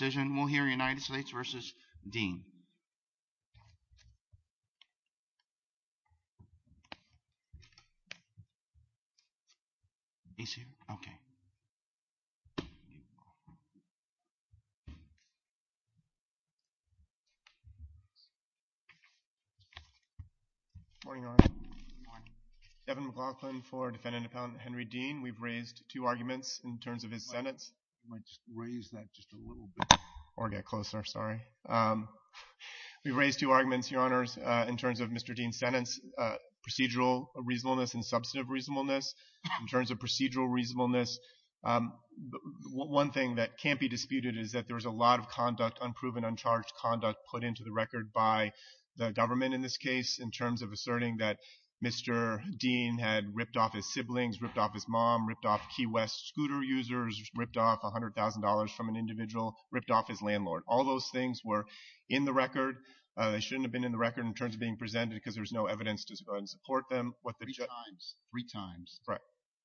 Devin McLaughlin for Defendant Appellant Henry Dean, we've raised two arguments in terms of his sentence. I might just raise that just a little bit or get closer, sorry. We've raised two arguments, Your Honors, in terms of Mr. Dean's sentence, procedural reasonableness and substantive reasonableness. In terms of procedural reasonableness, one thing that can't be disputed is that there was a lot of conduct, unproven, uncharged conduct put into the record by the government in this case in terms of asserting that Mr. Dean had ripped off his siblings, ripped off his mom, ripped off Key West scooter users, ripped off $100,000 from an individual, ripped off his landlord. All those things were in the record. They shouldn't have been in the record in terms of being presented because there's no evidence to support them. Three times. Three times. Right.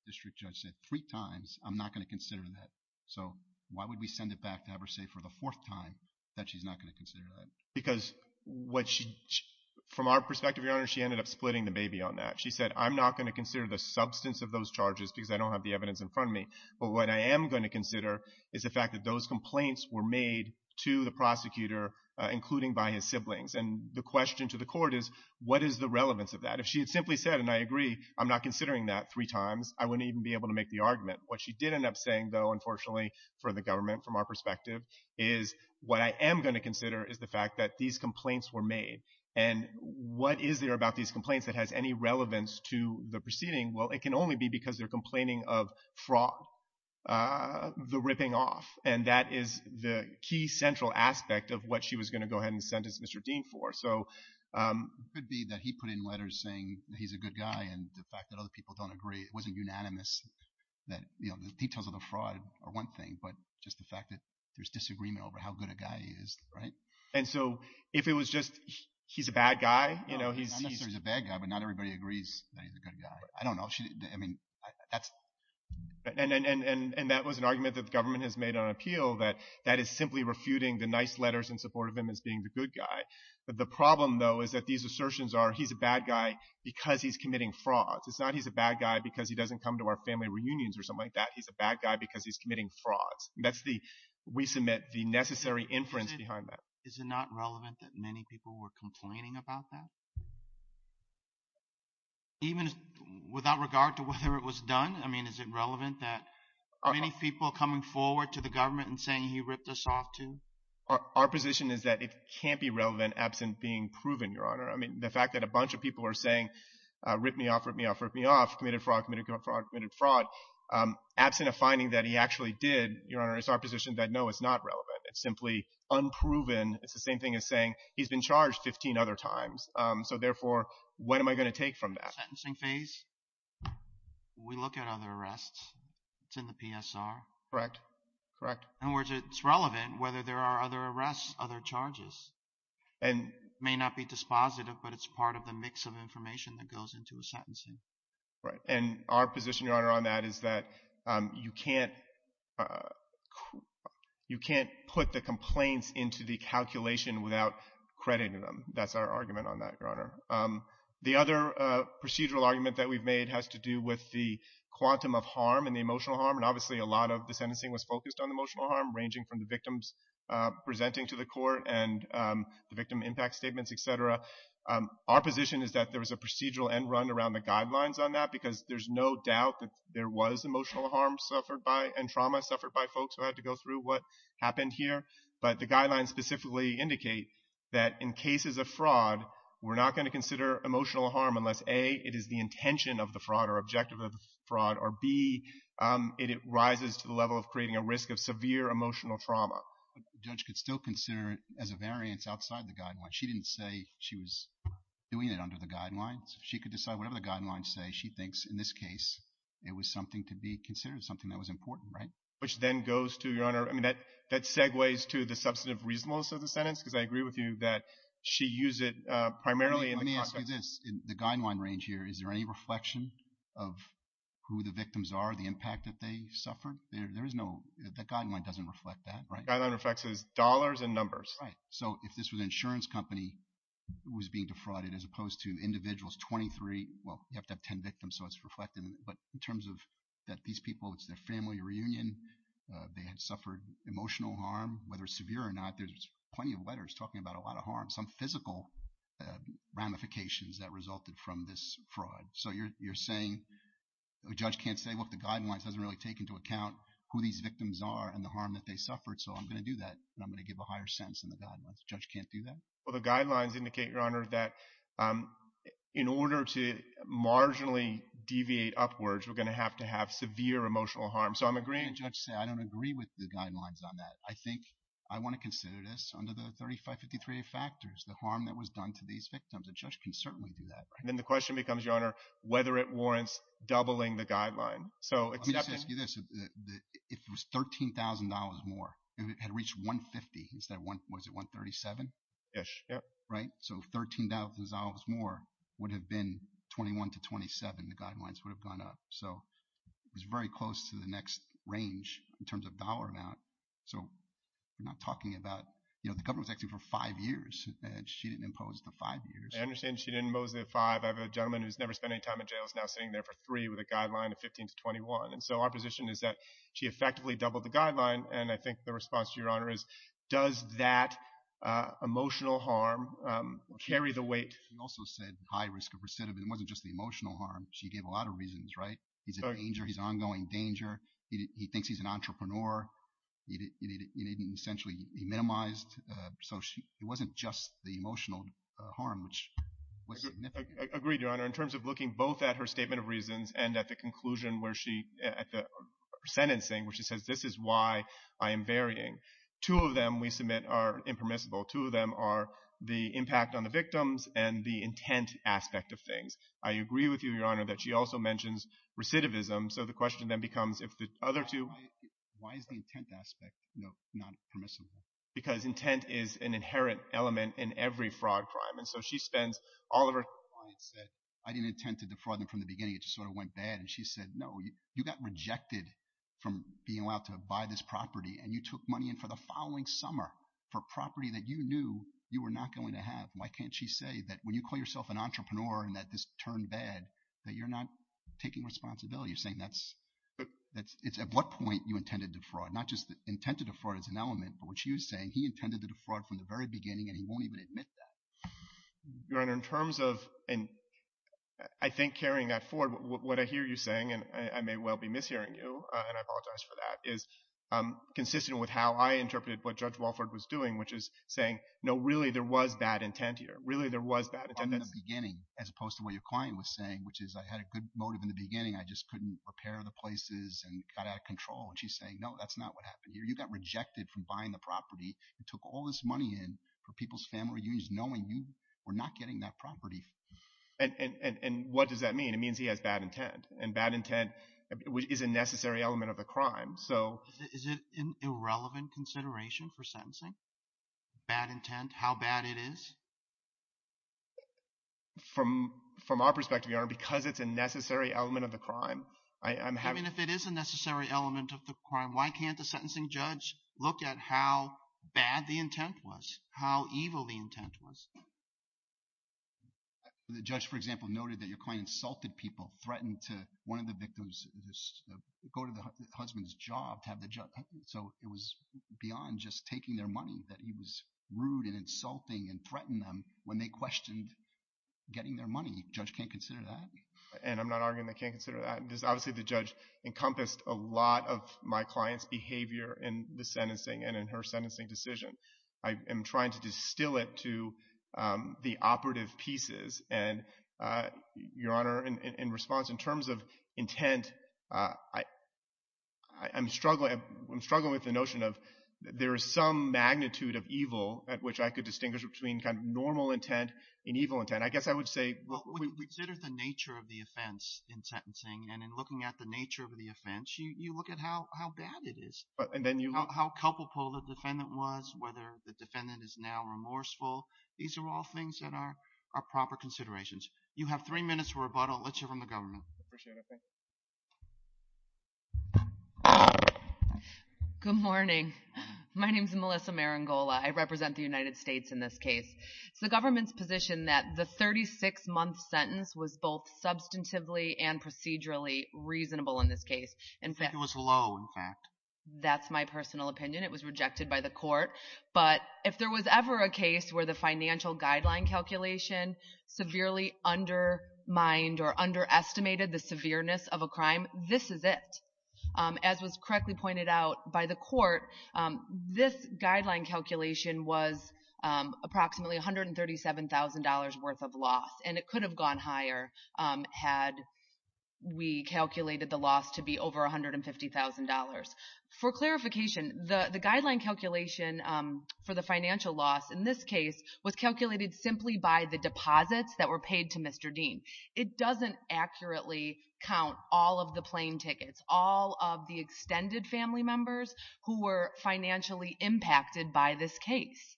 District Judge said, three times, I'm not going to consider that. So why would we send it back to have her say for the fourth time that she's not going to consider that? Because from our perspective, Your Honor, she ended up splitting the baby on that. She said, I'm not going to consider the substance of those charges because I don't have the evidence in front of me. But what I am going to consider is the fact that those complaints were made to the prosecutor, including by his siblings. And the question to the court is, what is the relevance of that? If she had simply said, and I agree, I'm not considering that three times, I wouldn't even be able to make the argument. What she did end up saying, though, unfortunately, for the government, from our perspective, is what I am going to consider is the fact that these complaints were made. And what is there about these complaints that has any relevance to the proceeding? Well, it can only be because they're complaining of fraud, the ripping off. And that is the key central aspect of what she was going to go ahead and sentence Mr. Dean for. So... It could be that he put in letters saying that he's a good guy and the fact that other people don't agree, it wasn't unanimous that, you know, the details of the fraud are one thing, but just the fact that there's disagreement over how good a guy he is, right? And so, if it was just, he's a bad guy, you know, he's... Not necessarily a bad guy, but not everybody agrees that he's a good guy. I don't know, I mean, that's... And that was an argument that the government has made on appeal, that that is simply refuting the nice letters in support of him as being the good guy. The problem, though, is that these assertions are, he's a bad guy because he's committing frauds. It's not he's a bad guy because he doesn't come to our family reunions or something like that. He's a bad guy because he's committing frauds. That's the, we submit, the necessary inference behind that. Is it not relevant that many people were complaining about that? Even without regard to whether it was done, I mean, is it relevant that many people coming forward to the government and saying he ripped us off, too? Our position is that it can't be relevant absent being proven, Your Honor. I mean, the fact that a bunch of people are saying, rip me off, rip me off, rip me off, committed fraud, committed fraud, committed fraud, absent a finding that he actually did, Your Honor, it's our position that no, it's not relevant. It's simply unproven. It's the same thing as saying he's been charged 15 other times. So therefore, when am I going to take from that? Sentencing phase. We look at other arrests. It's in the PSR. Correct. Correct. In other words, it's relevant whether there are other arrests, other charges, and may not be dispositive, but it's part of the mix of information that goes into a sentencing. Right. And our position, Your Honor, on that is that you can't put the complaints into the calculation without crediting them. That's our argument on that, Your Honor. The other procedural argument that we've made has to do with the quantum of harm and the emotional harm. And obviously, a lot of the sentencing was focused on emotional harm, ranging from the victims presenting to the court and the victim impact statements, et cetera. Our position is that there was a procedural end run around the guidelines on that because there's no doubt that there was emotional harm suffered by and trauma suffered by folks who had to go through what happened here. But the guidelines specifically indicate that in cases of fraud, we're not going to consider emotional harm unless, A, it is the intention of the fraud or objective of the fraud, or B, it rises to the level of creating a risk of severe emotional trauma. The judge could still consider it as a variance outside the guidelines. She didn't say she was doing it under the guidelines. She could decide whatever the guidelines say, she thinks, in this case, it was something to be considered, something that was important, right? Which then goes to, Your Honor, I mean, that segues to the substantive reasonableness of the sentence because I agree with you that she used it primarily in the context of- Let me ask you this. In the guideline range here, is there any reflection of who the victims are, the impact that they suffered? There is no, the guideline doesn't reflect that, right? The guideline reflects dollars and numbers. Right. So, if this was an insurance company who was being defrauded as opposed to individuals, 23, well, you have to have 10 victims, so it's reflected. But in terms of that these people, it's their family reunion, they had suffered emotional harm, whether it's severe or not, there's plenty of letters talking about a lot of harm, some physical ramifications that resulted from this fraud. So you're saying a judge can't say, look, the guidelines doesn't really take into account who these victims are and the harm that they suffered, so I'm going to do that and I'm going to do that. The judge can't do that? Well, the guidelines indicate, Your Honor, that in order to marginally deviate upwards, we're going to have to have severe emotional harm. So I'm agreeing- Can't a judge say, I don't agree with the guidelines on that? I think I want to consider this under the 3553A factors, the harm that was done to these victims. A judge can certainly do that, right? And then the question becomes, Your Honor, whether it warrants doubling the guideline. So it's- Let me just ask you this. If it was $13,000 more and it had reached 150 instead of, was it 137-ish, right? So $13,000 more would have been 21 to 27, the guidelines would have gone up. So it was very close to the next range in terms of dollar amount. So you're not talking about, you know, the government was acting for five years and she didn't impose the five years. I understand she didn't impose the five. I have a gentleman who's never spent any time in jail is now sitting there for three with a guideline of 15 to 21. And so our position is that she effectively doubled the guideline. And I think the response to Your Honor is, does that emotional harm carry the weight? She also said high risk of recidivism. It wasn't just the emotional harm. She gave a lot of reasons, right? He's a danger. He's an ongoing danger. He thinks he's an entrepreneur. He didn't essentially, he minimized. So it wasn't just the emotional harm, which was significant. Agreed, Your Honor. In terms of looking both at her statement of reasons and at the conclusion where she at the sentencing, where she says, this is why I am varying, two of them we submit are impermissible. Two of them are the impact on the victims and the intent aspect of things. I agree with you, Your Honor, that she also mentions recidivism. So the question then becomes if the other two. Why is the intent aspect, you know, not permissible? Because intent is an inherent element in every fraud crime. And so she spends all of her, I didn't intend to defraud them from the beginning. It just sort of went bad. And she said, no, you got rejected from being allowed to buy this property and you took money in for the following summer for property that you knew you were not going to have. Why can't she say that when you call yourself an entrepreneur and that this turned bad, that you're not taking responsibility? You're saying that's, it's at what point you intended to fraud? Not just the intent to defraud as an element, but what she was saying, he intended to defraud from the very beginning and he won't even admit that. Your Honor, in terms of, and I think carrying that forward, what I hear you saying, and I may well be mishearing you, and I apologize for that, is consistent with how I interpreted what Judge Walford was doing, which is saying, no, really there was bad intent here. Really there was bad intent. From the beginning, as opposed to what your client was saying, which is I had a good motive in the beginning. I just couldn't repair the places and got out of control. And she's saying, no, that's not what happened here. You got rejected from buying the property and took all this money in for people's family reunions, knowing you were not getting that property. And what does that mean? It means he has bad intent. And bad intent is a necessary element of the crime. So... Is it an irrelevant consideration for sentencing? Bad intent, how bad it is? From our perspective, Your Honor, because it's a necessary element of the crime, I'm having... I mean, if it is a necessary element of the crime, why can't the sentencing judge look at how bad the intent was, how evil the intent was? The judge, for example, noted that your client insulted people, threatened to one of the victims go to the husband's job to have the... So it was beyond just taking their money that he was rude and insulting and threatened them when they questioned getting their money. Judge can't consider that? And I'm not arguing they can't consider that. Obviously, the judge encompassed a lot of my client's behavior in the sentencing and in her sentencing decision. I am trying to distill it to the operative pieces. And Your Honor, in response, in terms of intent, I'm struggling with the notion of there is some magnitude of evil at which I could distinguish between kind of normal intent and evil intent. I guess I would say... And looking at the nature of the offense, you look at how bad it is, how culpable the defendant was, whether the defendant is now remorseful. These are all things that are proper considerations. You have three minutes for rebuttal. Let's hear from the government. Appreciate it. Thank you. Good morning. My name is Melissa Marangola. I represent the United States in this case. It's the government's position that the 36-month sentence was both substantively and procedurally reasonable in this case. It was low, in fact. That's my personal opinion. It was rejected by the court. But if there was ever a case where the financial guideline calculation severely undermined or underestimated the severeness of a crime, this is it. As was correctly pointed out by the court, this guideline calculation was approximately $137,000 worth of loss. And it could have gone higher had we calculated the loss to be over $150,000. For clarification, the guideline calculation for the financial loss in this case was calculated simply by the deposits that were paid to Mr. Dean. It doesn't accurately count all of the plane tickets, all of the extended family members who were financially impacted by this case.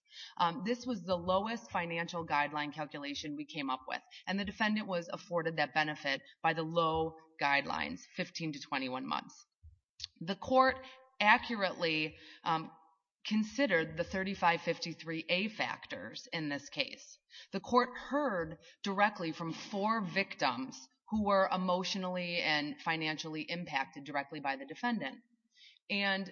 This was the lowest financial guideline calculation we came up with. And the defendant was afforded that benefit by the low guidelines, 15 to 21 months. The court accurately considered the 3553A factors in this case. The court heard directly from four victims who were emotionally and financially impacted directly by the defendant. And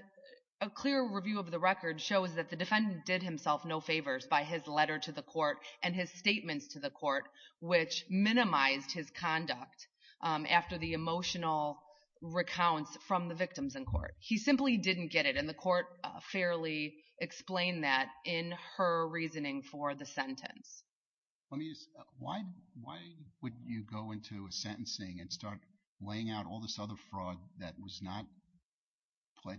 a clear review of the record shows that the defendant did himself no favors by his letter to the court and his statements to the court, which minimized his conduct after the emotional recounts from the victims in court. He simply didn't get it, and the court fairly explained that in her reasoning for the sentence. Let me ask, why would you go into a sentencing and start laying out all this other fraud that was not pled,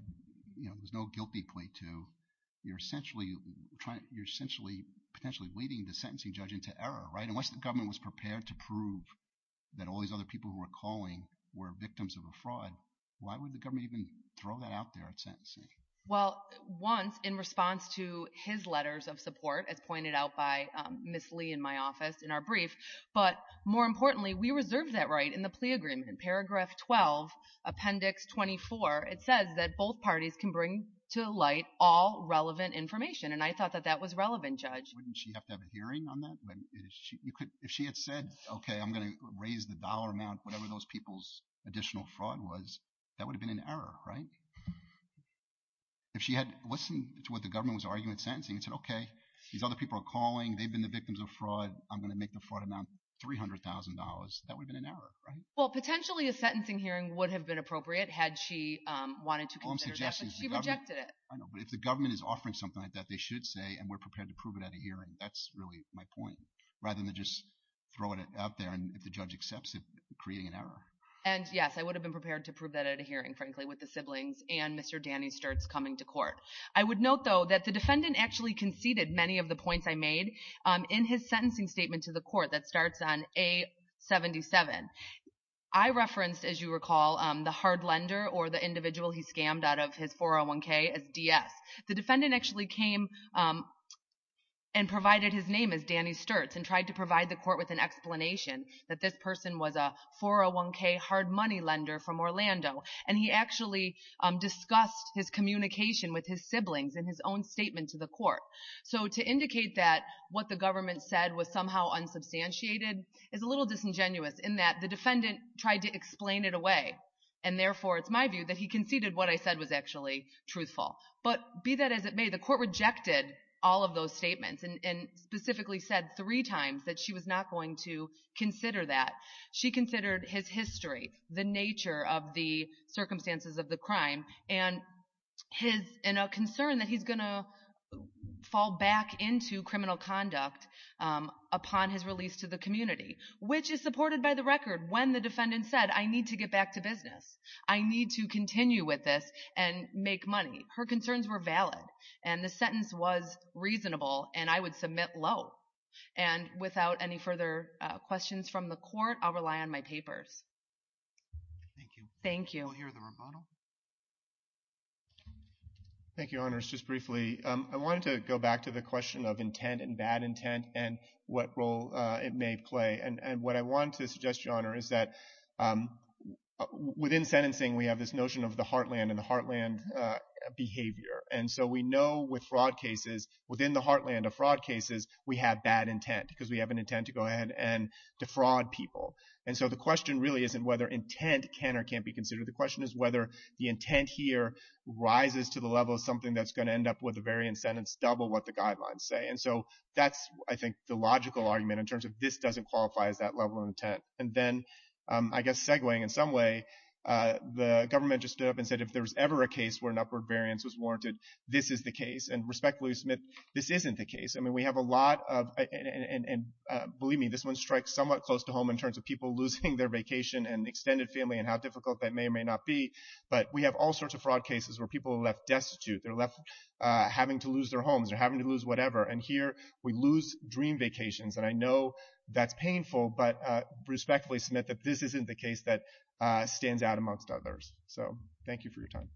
you know, there was no guilty plea to? You're essentially trying, you're essentially, potentially leading the sentencing judge into error, right? Unless the government was prepared to prove that all these other people who were calling were victims of a fraud, why would the government even throw that out there at sentencing? Well, once in response to his letters of support, as pointed out by Ms. Lee in my office in our brief, but more importantly, we reserved that right in the plea agreement in paragraph 12, appendix 24, it says that both parties can bring to light all relevant information, and I thought that that was relevant, Judge. Wouldn't she have to have a hearing on that? If she had said, okay, I'm going to raise the dollar amount, whatever those people's additional fraud was, that would have been an error, right? If she had listened to what the government was arguing at sentencing and said, okay, these other people are calling, they've been the victims of fraud, I'm going to make the fraud amount $300,000, that would have been an error, right? Well, potentially a sentencing hearing would have been appropriate had she wanted to consider that, but she rejected it. I know, but if the government is offering something like that, they should say, and we're prepared to prove it at a hearing, that's really my point, rather than just throwing it out there, and if the judge accepts it, creating an error. And yes, I would have been prepared to prove that at a hearing, frankly, with the siblings and Mr. Danny Sturtz coming to court. I would note, though, that the defendant actually conceded many of the points I made in his I referenced, as you recall, the hard lender, or the individual he scammed out of his 401k as DS. The defendant actually came and provided his name as Danny Sturtz and tried to provide the court with an explanation that this person was a 401k hard money lender from Orlando, and he actually discussed his communication with his siblings in his own statement to the court. So, to indicate that what the government said was somehow unsubstantiated is a little disingenuous in that the defendant tried to explain it away, and therefore it's my view that he conceded what I said was actually truthful. But be that as it may, the court rejected all of those statements and specifically said three times that she was not going to consider that. She considered his history, the nature of the circumstances of the crime, and a concern that he's going to fall back into criminal conduct upon his release to the community, which is supported by the record when the defendant said, I need to get back to business. I need to continue with this and make money. Her concerns were valid, and the sentence was reasonable, and I would submit low. And without any further questions from the court, I'll rely on my papers. Thank you. Thank you. We'll hear the rebuttal. Thank you, Honors. Just briefly, I wanted to go back to the question of intent and bad intent and what role it may play. And what I want to suggest, Your Honor, is that within sentencing, we have this notion of the heartland and the heartland behavior. And so we know with fraud cases, within the heartland of fraud cases, we have bad intent because we have an intent to go ahead and defraud people. And so the question really isn't whether intent can or can't be considered. The question is whether the intent here rises to the level of something that's going to end up with a variant sentence double what the guidelines say. And so that's, I think, the logical argument in terms of this doesn't qualify as that level of intent. And then, I guess segueing in some way, the government just stood up and said if there was ever a case where an upward variance was warranted, this is the case. And respectfully, Smith, this isn't the case. I mean, we have a lot of, and believe me, this one strikes somewhat close to home in terms of people losing their vacation and extended family and how difficult that may or may not be. But we have all sorts of fraud cases where people are left destitute, they're left having to lose their homes, they're having to lose whatever. And here, we lose dream vacations. And I know that's painful, but respectfully, Smith, this isn't the case that stands out amongst others. So, thank you for your time.